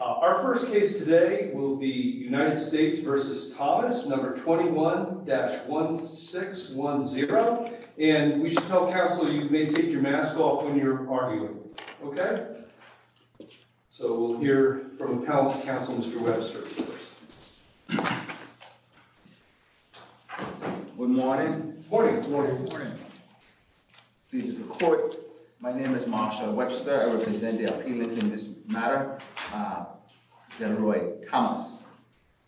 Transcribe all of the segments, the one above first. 21-1610. And we should tell counsel you may take your mask off when you're arguing. Okay? So we'll hear from the panel's counsel, Mr. Webster. Good morning. This is the court. My name is Marshall Webster. I represent the appealant in this matter, Delroy Thomas,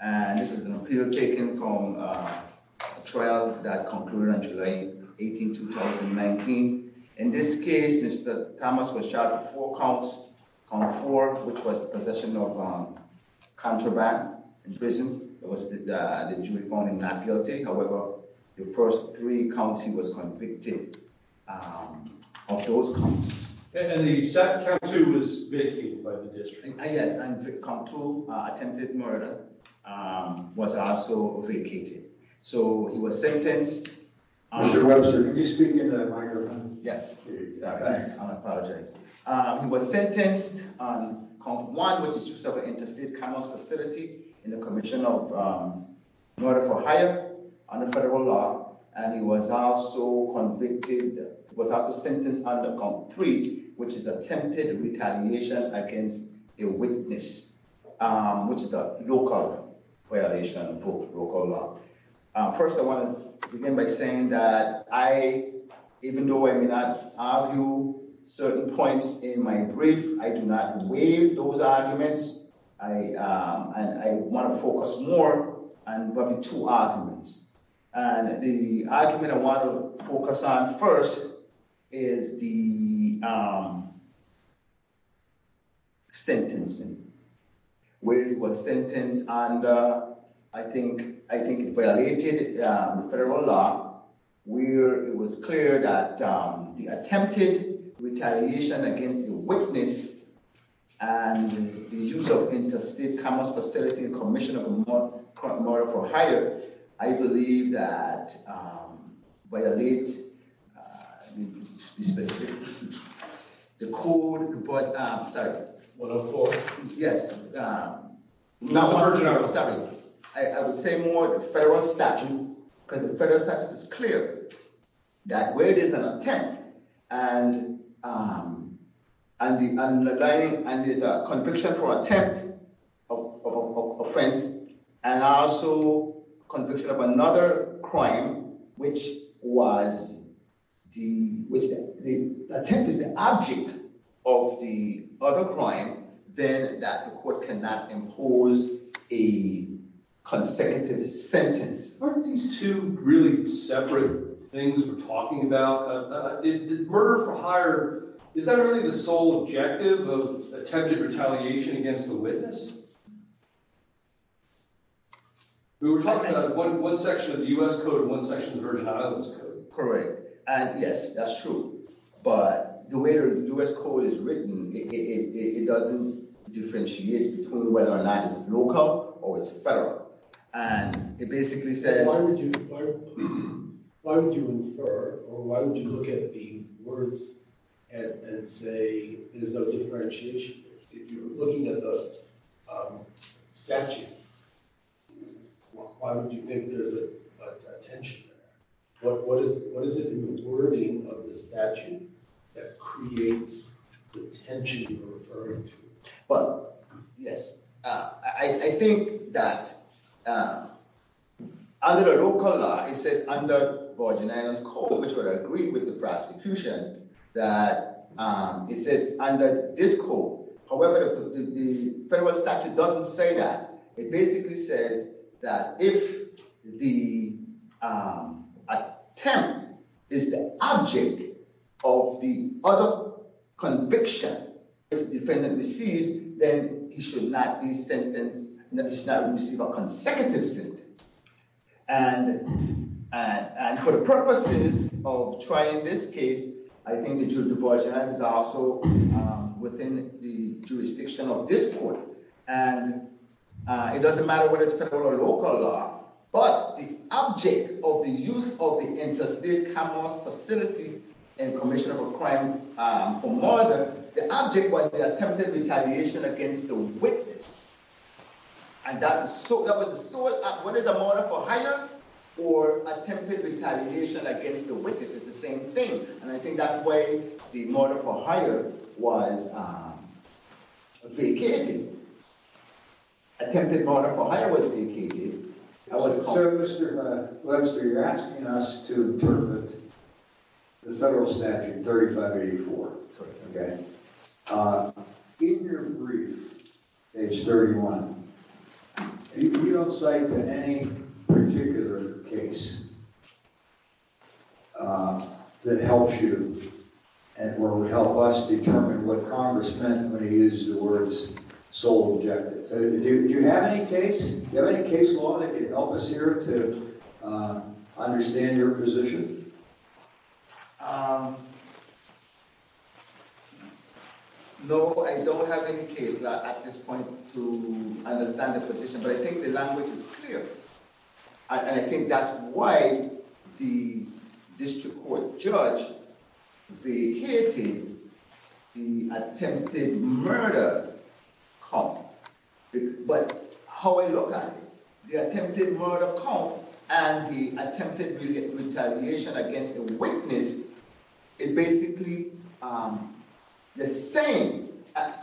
and this is an appeal taken from a trial that concluded on July 18, 2019. In this case, Mr. Thomas was charged with four counts, count four, which was possession of contraband in prison. It was the jury found him not guilty. However, the first three counts he was convicted of those counts. And the second count, too, was vacated by the district. Yes, and count two, attempted murder, was also vacated. So he was sentenced. Mr. Webster, can you speak into the microphone? Yes. Sorry. I apologize. He was sentenced on count one, which is use of an interstate commerce facility in the commission of murder for hire under federal law. And he was also convicted, was also sentenced under count three, which is attempted retaliation against a witness, which is a local violation of local law. First, I want to begin by saying that I, even though I may not argue certain points in my brief, I do not waive those arguments. And I want to focus more on probably two arguments. And the argument I want to focus on first is the sentencing, where he was sentenced and I think violated federal law, where it was clear that the attempted retaliation against a witness and the use of interstate commerce facility in the commission of murder for hire, I believe that violates the code. Sorry. Yes. I would say more federal statute because the federal statute is clear that where there's an attempt and there's a conviction for attempt of offense, and also conviction of another crime, which was the attempt is the object of the other crime, then that the court cannot impose a consecutive sentence. Aren't these two really separate things we're talking about? Murder for hire, is that really the sole objective of attempted retaliation against the witness? We were talking about one section of the U.S. code and one section of the Virgin Islands code. Correct. And yes, that's true. But the way the U.S. code is written, it doesn't differentiate between whether or not it's local or it's federal. And it basically says… Why would you infer or why would you look at the words and say there's no differentiation? If you're looking at the statute, why would you think there's a tension there? What is it in the wording of the statute that creates the tension you're referring to? Well, yes. I think that under the local law, it says under Virgin Islands code, which would agree with the prosecution, that it says under this code, however, the federal statute doesn't say that. It basically says that if the attempt is the object of the other conviction the defendant receives, then he should not receive a consecutive sentence. And for the purposes of trying this case, I think the jury of the Virgin Islands is also within the jurisdiction of this court. And it doesn't matter whether it's federal or local law, but the object of the use of the interstate cameras facility in commission of a crime for murder, the object was the attempted retaliation against the witness. And that was the sole… What is a murder for hire or attempted retaliation against the witness? It's the same thing. And I think that's why the murder for hire was vacated. Attempted murder for hire was vacated. So, Mr. Webster, you're asking us to interpret the federal statute 3584. In your brief, page 31, you don't cite any particular case that helps you or would help us determine what Congress meant when he used the words sole objective. Do you have any case? Do you have any case law that could help us here to understand your position? No, I don't have any case law at this point to understand the position, but I think the language is clear. And I think that's why the district court judge vacated the attempted murder comp. But how I look at it, the attempted murder comp and the attempted retaliation against the witness is basically the same. And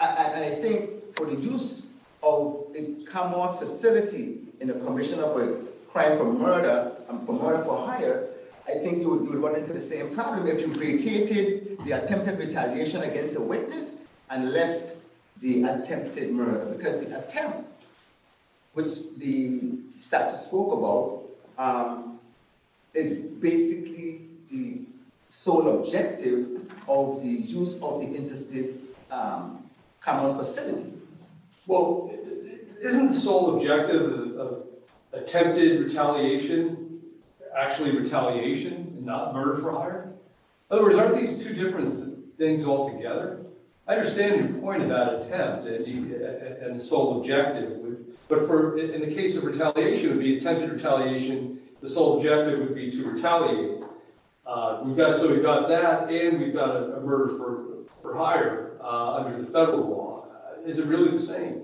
I think for the use of a cameras facility in the commission of a crime for murder and for murder for hire, I think you would run into the same problem if you vacated the attempted retaliation against the witness and left the attempted murder. Because the attempt, which the statute spoke about, is basically the sole objective of the use of the interstate cameras facility. Well, isn't the sole objective of attempted retaliation actually retaliation and not murder for hire? In other words, aren't these two different things altogether? I understand your point about attempt and the sole objective. But in the case of retaliation, the attempted retaliation, the sole objective would be to retaliate. So we've got that and we've got a murder for hire under the federal law. Is it really the same?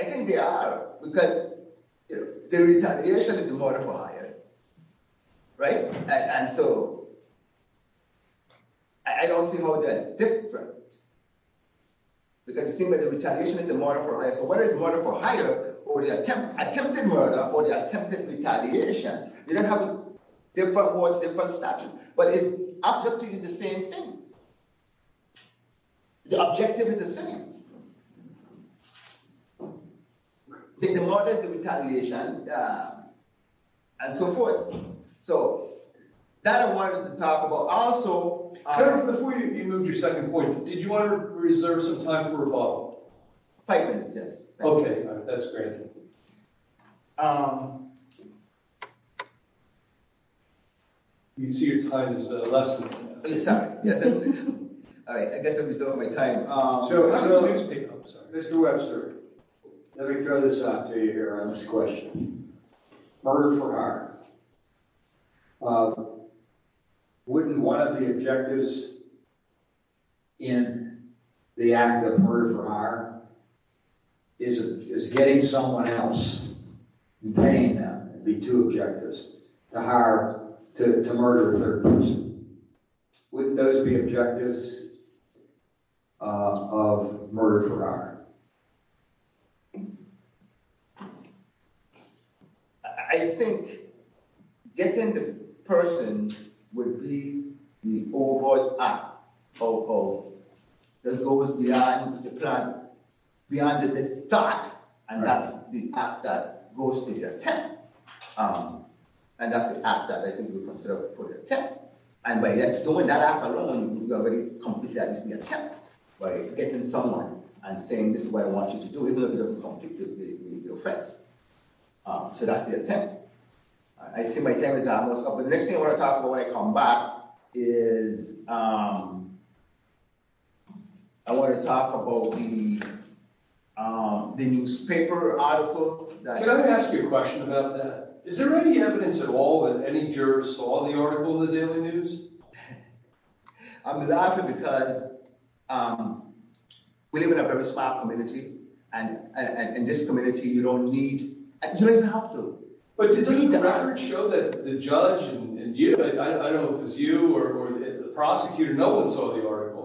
I think they are, because the retaliation is the murder for hire, right? And so I don't see how they're different. Because it seems like the retaliation is the murder for hire. So whether it's murder for hire or the attempted murder or the attempted retaliation, you're going to have different words, different statutes. But it's objectively the same thing. The objective is the same. Take the murders, the retaliation, and so forth. So that I wanted to talk about. Also… Before you move to your second point, did you want to reserve some time for a follow-up? Five minutes, yes. Okay. That's great. You can see your time is less than half. Sorry. I guess I'm reserving my time. Mr. Webster, let me throw this out to you here on this question. Murder for hire. Wouldn't one of the objectives in the act of murder for hire is getting someone else and paying them, would be two objectives, to murder a third person. Wouldn't those be objectives of murder for hire? I think getting the person would be the overt act that goes beyond the plan, beyond the thought, and that's the act that goes to the attempt. And that's the act that I think we consider for the attempt. And by just doing that act alone, you're already completing at least the attempt by getting someone and saying, this is what I want you to do, even if it doesn't complete with your friends. So that's the attempt. I see my time is almost up. The next thing I want to talk about when I come back is I want to talk about the newspaper article that… I'm laughing because we live in a very smart community and in this community you don't need, you don't even have to read the article. But didn't the record show that the judge and you, I don't know if it was you or the prosecutor, no one saw the article.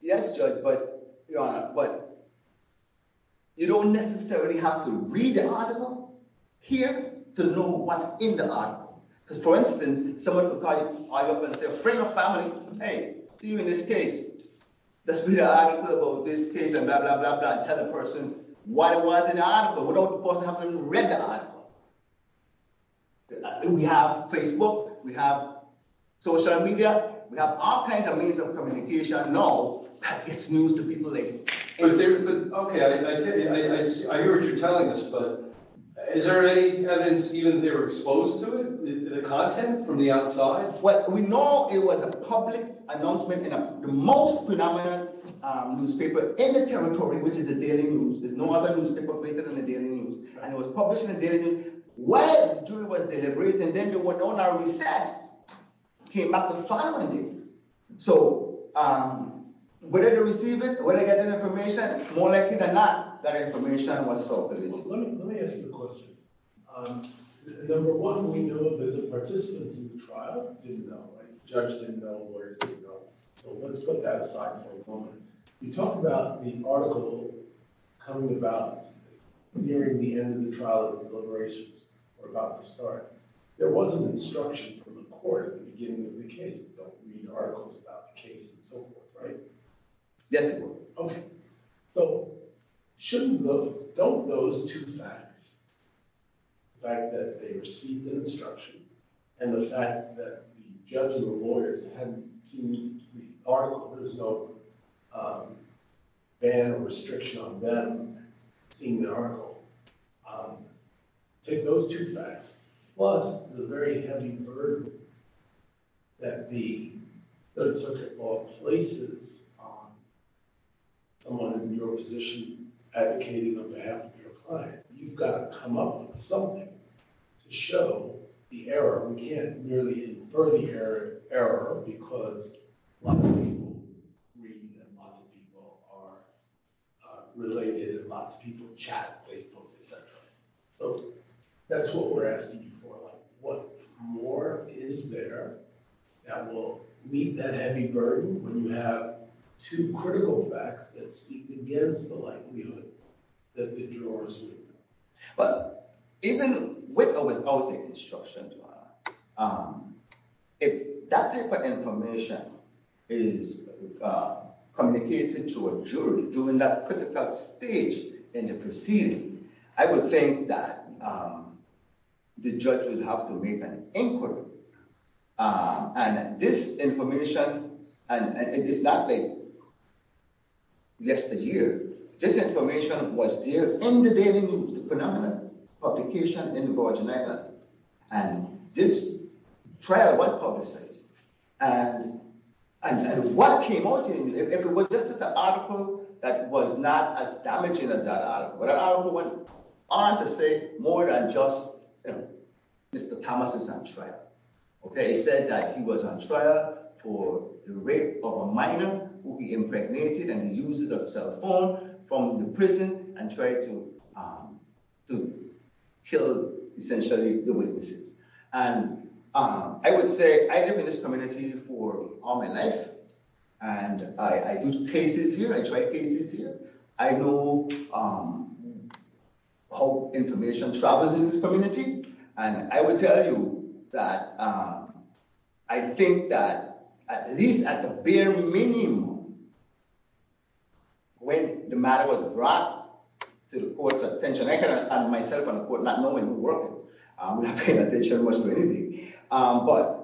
Yes, Judge, but you don't necessarily have to read the article here to know what's in the article. Because, for instance, someone could call you up and say, friend or family, hey, see you in this case, let's read an article about this case and blah, blah, blah, blah, and tell the person what it was in the article. But without the person having read the article, we have Facebook, we have social media, we have all kinds of means of communication. Now, that gets news to people. Okay, I hear what you're telling us, but is there any evidence even that they were exposed to it, the content from the outside? Well, we know it was a public announcement in the most phenomenal newspaper in the territory, which is the Daily News. There's no other newspaper greater than the Daily News. And it was published in the Daily News when the jury was deliberating. Then they went on a recess, came back to filing it. So whether they receive it, whether they get that information, more likely than not, that information was sold illegally. Let me ask you a question. Number one, we know that the participants in the trial didn't know. The judge didn't know. The lawyers didn't know. So let's put that aside for a moment. You talk about the article coming about nearing the end of the trial, the deliberations were about to start. There was an instruction from the court at the beginning of the case, don't read articles about the case and so forth, right? Yes. Okay. So don't those two facts, the fact that they received an instruction and the fact that the judge and the lawyers hadn't seen the article, there's no ban or restriction on them seeing the article, take those two facts. Plus, the very heavy burden that the Third Circuit Law places on someone in your position advocating on behalf of your client. You've got to come up with something to show the error. We can't really infer the error because lots of people read and lots of people are related and lots of people chat on Facebook, etc. That's what we're asking you for. What more is there that will meet that heavy burden when you have two critical facts that speak against the likelihood that the jurors would know? Even with or without the instruction, if that type of information is communicated to a jury during that critical stage in the proceeding, I would think that the judge would have to make an inquiry. And this information, and it is not like yesteryear. This information was there in the Daily News, the predominant publication in the Virgin Islands. And this trial was publicized. And what came out in it, if it was just an article that was not as damaging as that article. But that article went on to say more than just Mr. Thomas is on trial. It said that he was on trial for the rape of a minor who he impregnated and he used a cell phone from the prison and tried to kill, essentially, the witnesses. And I would say I live in this community for all my life, and I do cases here. I try cases here. I know how information travels in this community. And I would tell you that I think that at least at the bare minimum, when the matter was brought to the court's attention, I can understand myself on the court not knowing who worked it. I'm not paying attention much to anything. But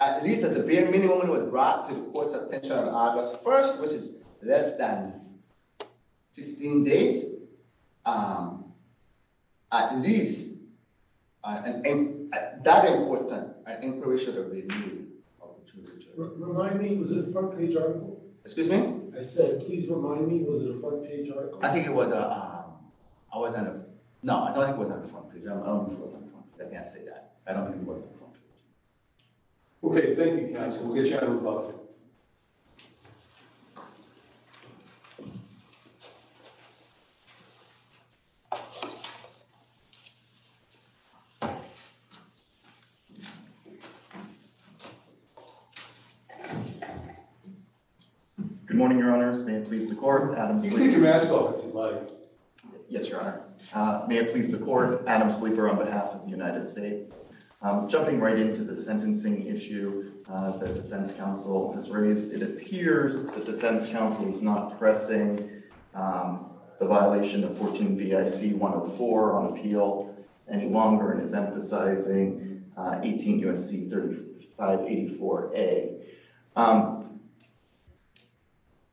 at least at the bare minimum, when it was brought to the court's attention on August 1st, which is less than 15 days, at least that important an inquiry should have been made. Remind me, was it a front-page article? Excuse me? I said, please remind me, was it a front-page article? I think it was. I wasn't going to. No, I don't think it was on the front page. I don't think it was on the front page. I can't say that. I don't think it was on the front page. OK, thank you, counsel. We'll get you out of the public. Good morning, Your Honors. May it please the court. Adam Sleeper. You can take your mask off if you'd like. Yes, Your Honor. May it please the court. Adam Sleeper on behalf of the United States. Jumping right into the sentencing issue that defense counsel has raised, it appears that defense counsel is not pressing the violation of 14 BIC 104 on appeal any longer and is emphasizing 18 U.S.C. 3584A.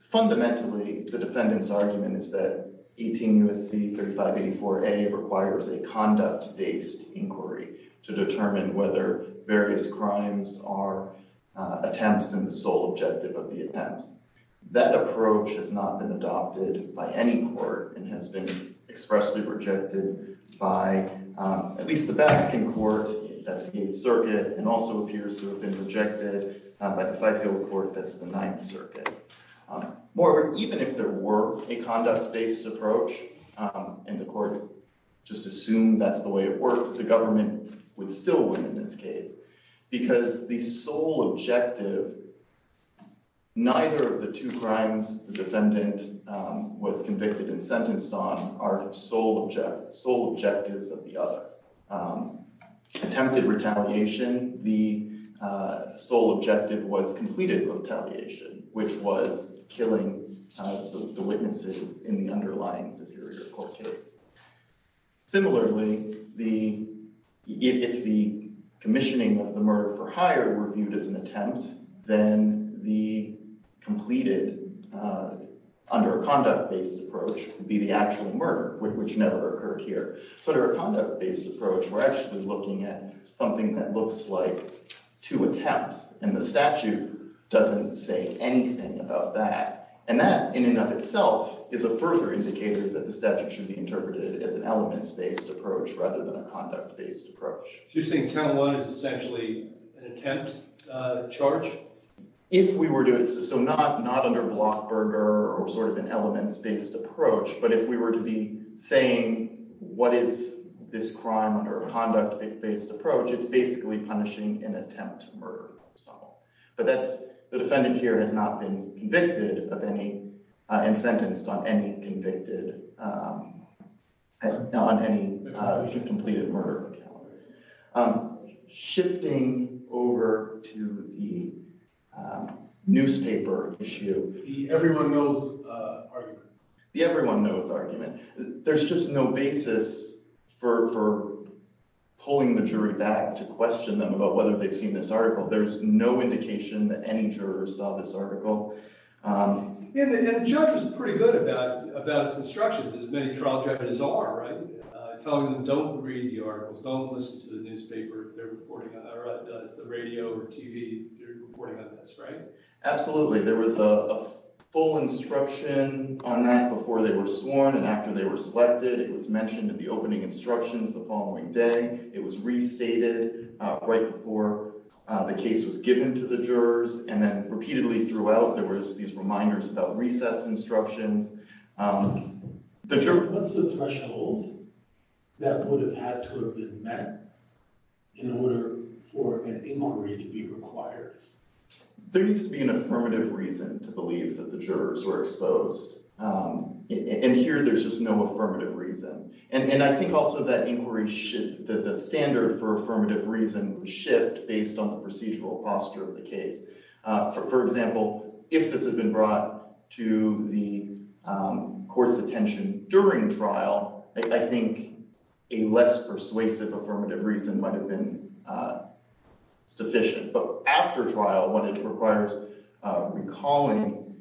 Fundamentally, the defendant's argument is that 18 U.S.C. 3584A requires a conduct-based inquiry to determine whether various crimes are attempts in the sole objective of the attempts. That approach has not been adopted by any court and has been expressly rejected by at least the Baskin court, that's the Eighth Circuit, and also appears to have been rejected by the Fifield court, that's the Ninth Circuit. Moreover, even if there were a conduct-based approach and the court just assumed that's the way it works, the government would still win in this case because the sole objective, neither of the two crimes the defendant was convicted and sentenced on are sole objectives of the other. Attempted retaliation, the sole objective was completed retaliation, which was killing the witnesses in the underlying superior court case. Similarly, if the commissioning of the murder for hire were viewed as an attempt, then the completed under a conduct-based approach would be the actual murder, which never occurred here. But under a conduct-based approach, we're actually looking at something that looks like two attempts, and the statute doesn't say anything about that. And that, in and of itself, is a further indicator that the statute should be interpreted as an elements-based approach rather than a conduct-based approach. So you're saying count one is essentially an attempt charge? So not under block burger or sort of an elements-based approach, but if we were to be saying what is this crime under a conduct-based approach, it's basically punishing an attempt to murder. But the defendant here has not been convicted of any and sentenced on any completed murder. Shifting over to the newspaper issue. The everyone knows argument. The everyone knows argument. There's just no basis for pulling the jury back to question them about whether they've seen this article. There's no indication that any jurors saw this article. And the judge was pretty good about its instructions, as many trial defendants are, right? Telling them don't read the articles, don't listen to the newspaper, the radio or TV, they're reporting on this, right? Absolutely. There was a full instruction on that before they were sworn and after they were selected. It was mentioned in the opening instructions the following day. It was restated right before the case was given to the jurors. And then repeatedly throughout, there was these reminders about recess instructions. What's the threshold that would have had to have been met in order for an inquiry to be required? There needs to be an affirmative reason to believe that the jurors were exposed. And here there's just no affirmative reason. And I think also that the standard for affirmative reason would shift based on the procedural posture of the case. For example, if this had been brought to the court's attention during trial, I think a less persuasive affirmative reason might have been sufficient. But after trial, what it requires, recalling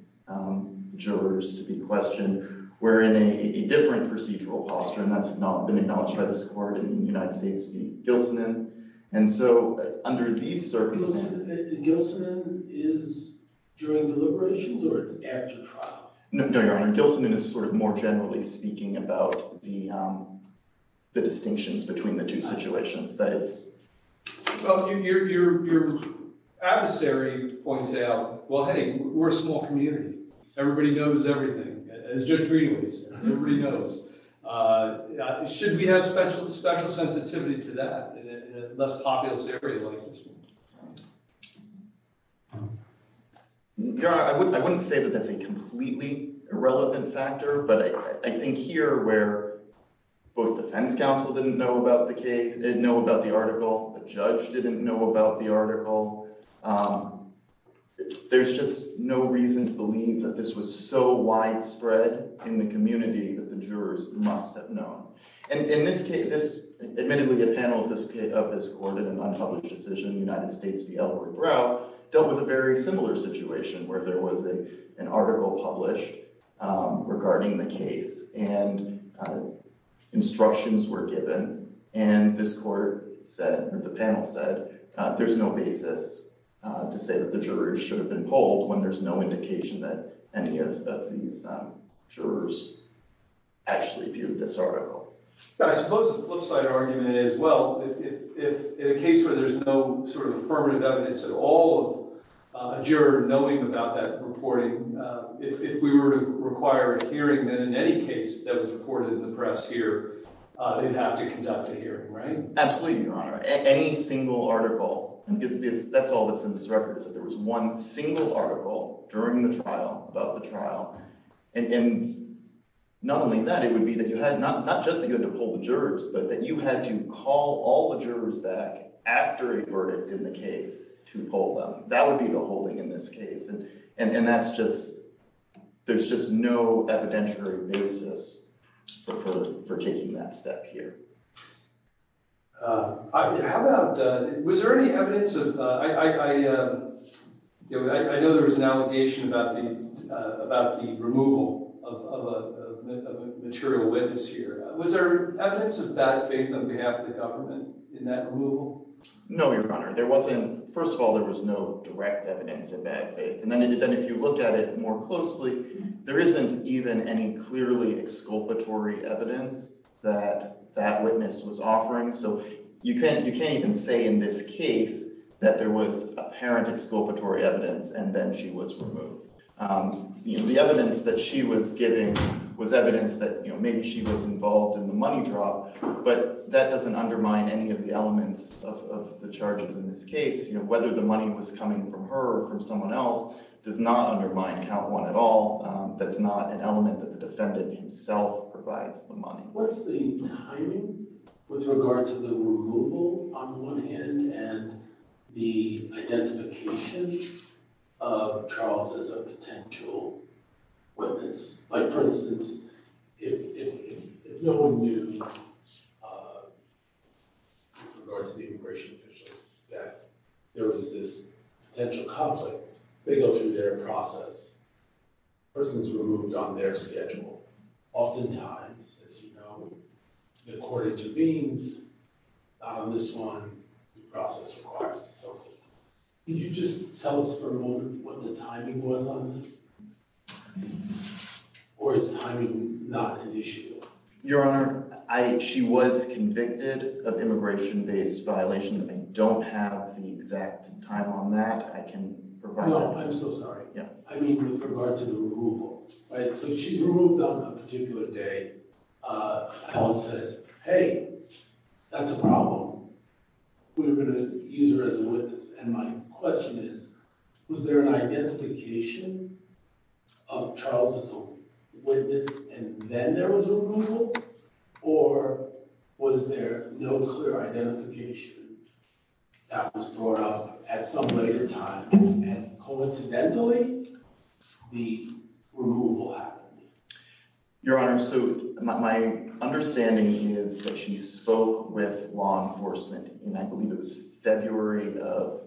jurors to be questioned, we're in a different procedural posture. And that's not been acknowledged by this court in the United States v. Gilsanin. And so under these circumstances— Gilsanin is during deliberations or it's after trial? No, Your Honor. Gilsanin is sort of more generally speaking about the distinctions between the two situations. Well, your adversary points out, well, hey, we're a small community. Everybody knows everything, as Judge Greenwood says. Everybody knows. Should we have special sensitivity to that in a less populous area like this one? Your Honor, I wouldn't say that that's a completely irrelevant factor. But I think here where both the defense counsel didn't know about the case, didn't know about the article, the judge didn't know about the article, there's just no reason to believe that this was so widespread in the community that the jurors must have known. And in this case—admittedly, a panel of this court in an unpublished decision in the United States v. Elroy Brow dealt with a very similar situation where there was an article published regarding the case, and instructions were given, and this court said, or the panel said, that there's no basis to say that the jurors should have been polled when there's no indication that any of these jurors actually viewed this article. I suppose the flipside argument is, well, if in a case where there's no sort of affirmative evidence at all of a juror knowing about that reporting, if we were to require a hearing, then in any case that was reported in the press here, they'd have to conduct a hearing, right? Absolutely, Your Honor. Any single article—that's all that's in this record, is that there was one single article during the trial, about the trial, and not only that, it would be that you had—not just that you had to poll the jurors, but that you had to call all the jurors back after a verdict in the case to poll them. That would be the holding in this case, and that's just—there's just no evidentiary basis for taking that step here. How about—was there any evidence of—I know there was an allegation about the removal of a material witness here. Was there evidence of that faith on behalf of the government in that removal? No, Your Honor. There wasn't—first of all, there was no direct evidence of bad faith, and then if you look at it more closely, there isn't even any clearly exculpatory evidence that that witness was offering, so you can't even say in this case that there was apparent exculpatory evidence and then she was removed. The evidence that she was giving was evidence that maybe she was involved in the money drop, but that doesn't undermine any of the elements of the charges in this case. Whether the money was coming from her or from someone else does not undermine count one at all. That's not an element that the defendant himself provides the money. What's the timing with regard to the removal on one hand and the identification of Charles as a potential witness? Like, for instance, if no one knew with regard to the immigration officials that there was this potential conflict, they go through their process. The person is removed on their schedule. Oftentimes, as you know, the court intervenes. Not on this one. The process requires it. Can you just tell us for a moment what the timing was on this, or is timing not an issue? Your Honor, she was convicted of immigration-based violations. I don't have the exact time on that. I can provide that. No, I'm so sorry. I mean with regard to the removal. So she's removed on a particular day. Allen says, hey, that's a problem. We're going to use her as a witness. And my question is, was there an identification of Charles as a witness and then there was a removal? Or was there no clear identification that was brought up at some later time? And coincidentally, the removal happened. Your Honor, so my understanding is that she spoke with law enforcement in I believe it was February of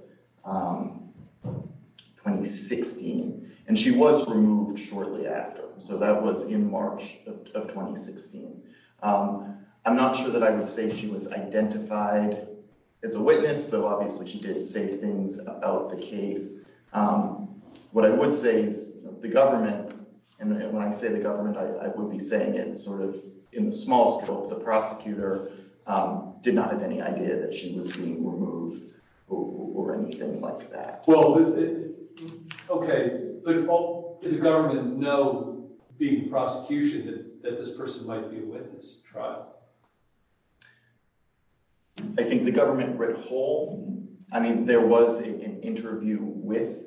2016. And she was removed shortly after. So that was in March of 2016. I'm not sure that I would say she was identified as a witness, but obviously she did say things about the case. What I would say is the government, and when I say the government, I would be saying it sort of in the small scope. The prosecutor did not have any idea that she was being removed or anything like that. Okay. But did the government know being prosecution that this person might be a witness to trial? I think the government read whole. I mean, there was an interview with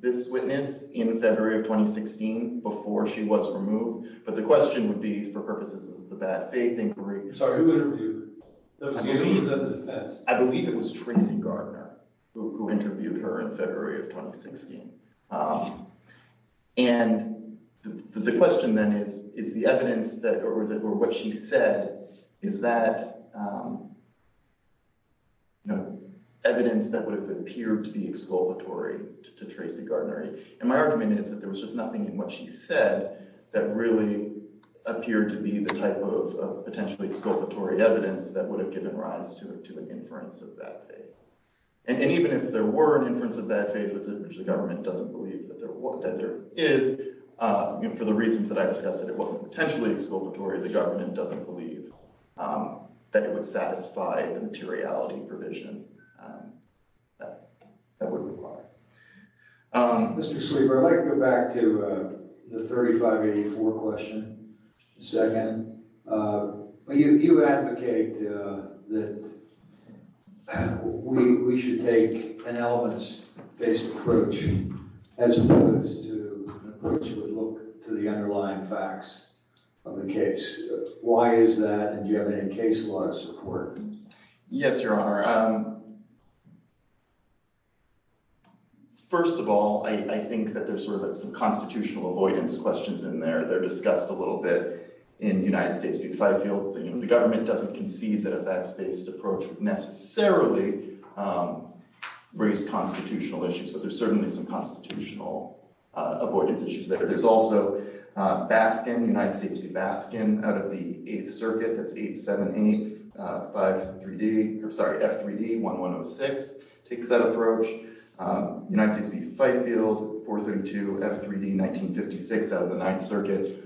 this witness in February of 2016 before she was removed. But the question would be for purposes of the bad faith inquiry. Sorry, who interviewed her? I believe it was Tracy Gardner who interviewed her in February of 2016. And the question then is, is the evidence that or what she said, is that evidence that would have appeared to be exculpatory to Tracy Gardner? And my argument is that there was just nothing in what she said that really appeared to be the type of potentially exculpatory evidence that would have given rise to an inference of that faith. And even if there were an inference of that faith, which the government doesn't believe that there is, for the reasons that I discussed, that it wasn't potentially exculpatory, the government doesn't believe that it would satisfy the materiality provision that would require. Mr. Schlieber, I'd like to go back to the 3584 question a second. You advocate that we should take an elements-based approach as opposed to an approach that would look to the underlying facts of the case. Why is that, and do you have any case law support? Yes, Your Honor. First of all, I think that there's sort of some constitutional avoidance questions in there. They're discussed a little bit in United States v. Fifield. The government doesn't concede that a facts-based approach would necessarily raise constitutional issues, but there's certainly some constitutional avoidance issues there. There's also Baskin, United States v. Baskin, out of the Eighth Circuit, that's 878-5-3-D—I'm sorry, F3-D-1106 takes that approach. United States v. Fifield, 432-F3-D-1956 out of the Ninth Circuit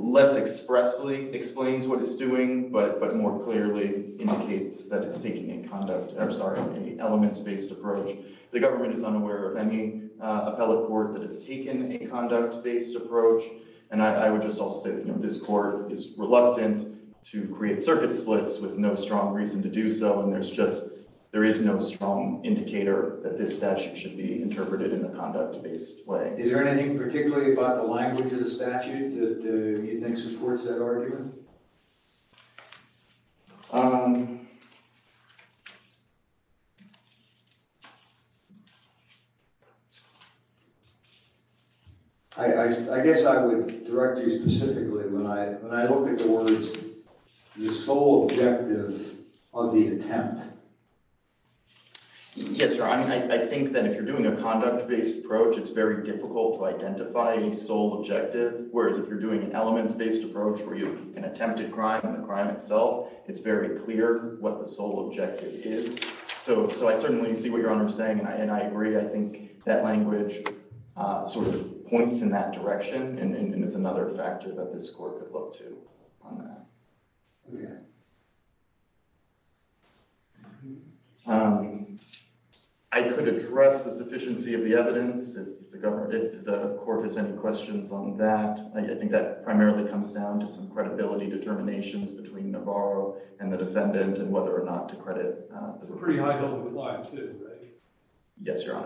less expressly explains what it's doing, but more clearly indicates that it's taking a conduct—I'm sorry, an elements-based approach. The government is unaware of any appellate court that has taken a conduct-based approach, and I would just also say that this court is reluctant to create circuit splits with no strong reason to do so, and there's just—there is no strong indicator that this statute should be interpreted in a conduct-based way. Is there anything particularly about the language of the statute that you think supports that argument? I guess I would direct you specifically when I look at the words, the sole objective of the attempt. Yes, sir. I mean, I think that if you're doing a conduct-based approach, it's very difficult to identify a sole objective, whereas if you're doing an elements-based approach where you can attempt a crime and the crime itself, it's very clear what the sole objective is. So I certainly see what Your Honor is saying, and I agree. I think that language sort of points in that direction, and it's another factor that this court could look to on that. Okay. I could address the sufficiency of the evidence if the court has any questions on that. I think that primarily comes down to some credibility determinations between Navarro and the defendant and whether or not to credit— Pretty high level of reliance, too, right? Yes, Your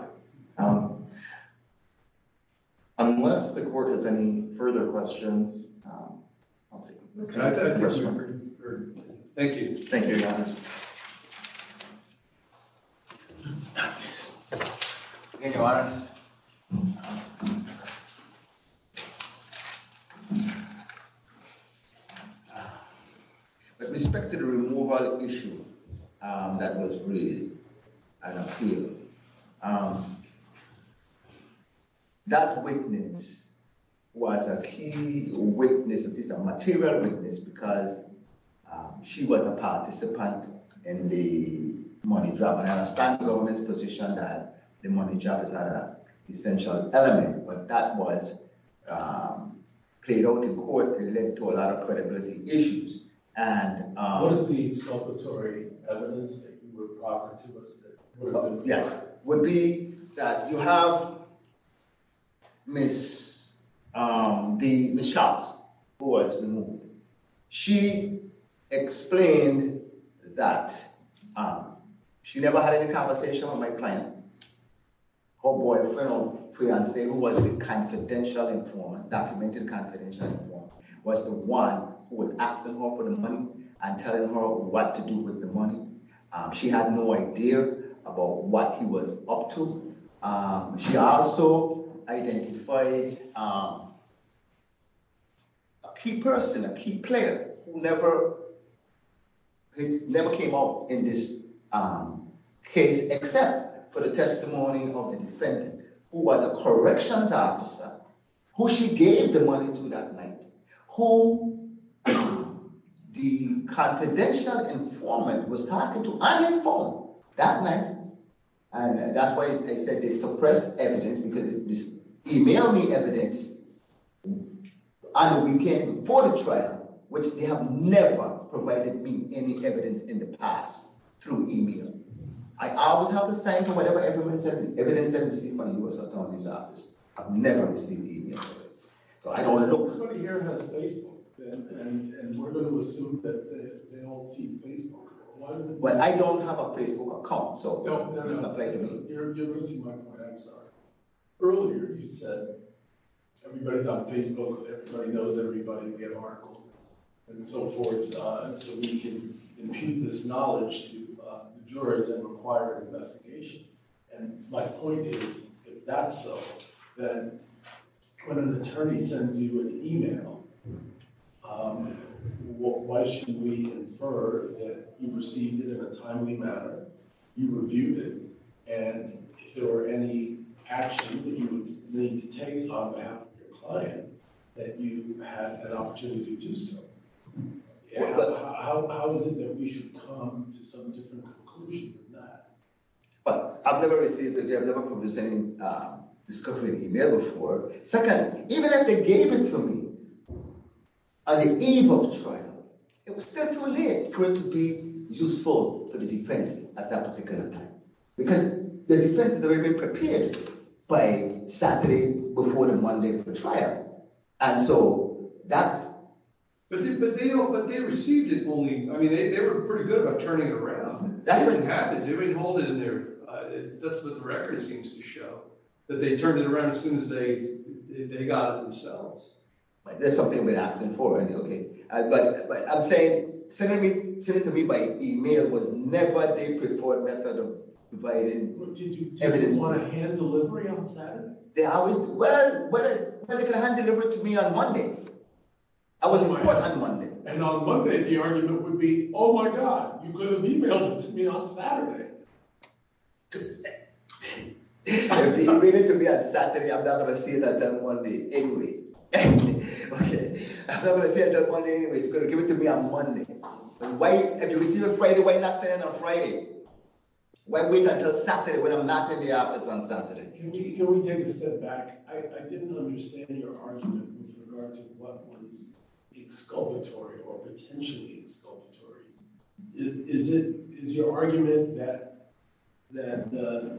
Honor. Unless the court has any further questions, I'll take them. Thank you. Thank you, Your Honor. Thank you, Your Honor. I understand the government's position that the money drop is not an essential element, but that was played out in court and led to a lot of credibility issues. What is the exculpatory evidence that you would offer to us? Yes, would be that you have Ms. Charles, who has been moved. She explained that she never had any conversation with my client. Her boyfriend or fiancé, who was the confidential informant, documented confidential informant, was the one who was asking her for the money and telling her what to do with the money. She had no idea about what he was up to. She also identified a key person, a key player, who never came up in this case except for the testimony of the defendant, who was a corrections officer, who she gave the money to that night, who the confidential informant was talking to on his phone that night. And that's why I said they suppressed evidence, because they e-mailed me evidence on the weekend before the trial, which they have never provided me any evidence in the past through e-mail. I always have the same for whatever evidence I receive from the U.S. Attorney's Office. I've never received e-mail evidence. So I don't look… Everybody here has Facebook, and we're going to assume that they all see Facebook. Well, I don't have a Facebook account, so it's not right to me. You're losing my point. I'm sorry. Earlier you said everybody's on Facebook, everybody knows everybody, they have articles and so forth, so we can impute this knowledge to the jurors that require an investigation. And my point is, if that's so, then when an attorney sends you an e-mail, why should we infer that you received it in a timely manner, you reviewed it, and if there were any actions that you would need to take on behalf of your client, that you had an opportunity to do so? How is it that we should come to some different conclusion than that? Well, I've never received, I've never published any discovery in e-mail before. Second, even if they gave it to me on the eve of the trial, it was still too late for it to be useful for the defense at that particular time, because the defense had already been prepared by Saturday before the Monday of the trial. And so that's… But they received it only… I mean, they were pretty good about turning it around. That's what the record seems to show, that they turned it around as soon as they got it themselves. That's something we're asking for. But I'm saying, sending it to me by e-mail was never the preferred method of providing evidence. Did you want a hand delivery on Saturday? Well, they could have hand-delivered it to me on Monday. I was in court on Monday. And on Monday, the argument would be, oh, my God, you could have e-mailed it to me on Saturday. If you read it to me on Saturday, I'm not going to see it until Monday anyway. I'm not going to see it until Monday anyway, so give it to me on Monday. If you receive it Friday, why not send it on Friday? Why wait until Saturday when I'm not in the office on Saturday? Can we take a step back? I didn't understand your argument with regard to what was exculpatory or potentially exculpatory. Is your argument that the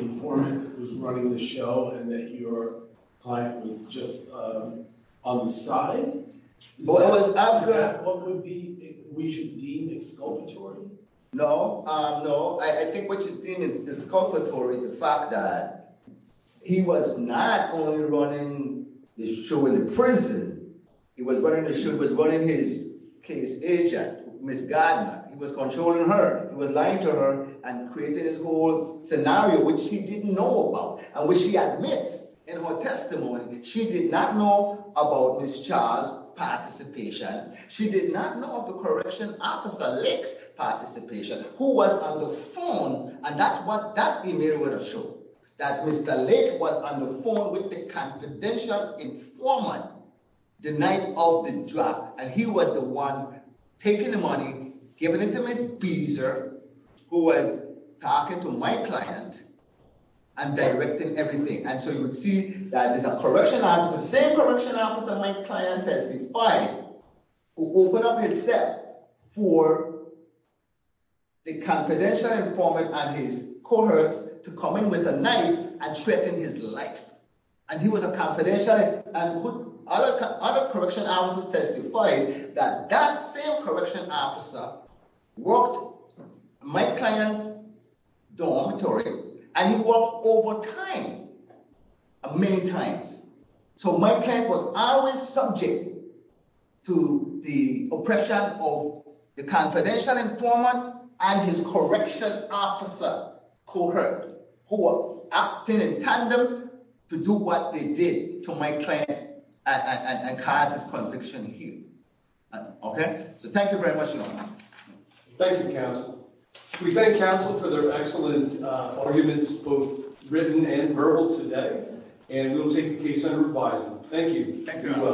informant was running the show and that your client was just on the side? Is that what we should deem exculpatory? No, no. I think what you deem as exculpatory is the fact that he was not only running the show in prison. He was running the show. He was running his case agent, Ms. Gardner. He was controlling her. He was lying to her and creating this whole scenario, which he didn't know about and which he admits in her testimony. She did not know about Ms. Charles' participation. She did not know of the correction officer, Lake's participation, who was on the phone. And that's what that email was to show, that Mr. Lake was on the phone with the confidential informant the night of the drop. And he was the one taking the money, giving it to Ms. Beazer, who was talking to my client and directing everything. And so you would see that there's a correction officer, the same correction officer my client testified, who opened up his cell for the confidential informant and his cohorts to come in with a knife and threaten his life. And he was a confidential informant and other correction officers testified that that same correction officer worked my client's dormitory and he worked overtime many times. So my client was always subject to the oppression of the confidential informant and his correction officer cohort, who were acting in tandem to do what they did to my client and cause his conviction here. Okay? So thank you very much, Your Honor. Thank you, counsel. We thank counsel for their excellent arguments, both written and verbal today. And we'll take the case under revising. Thank you. Thank you, Your Honor. You're welcome.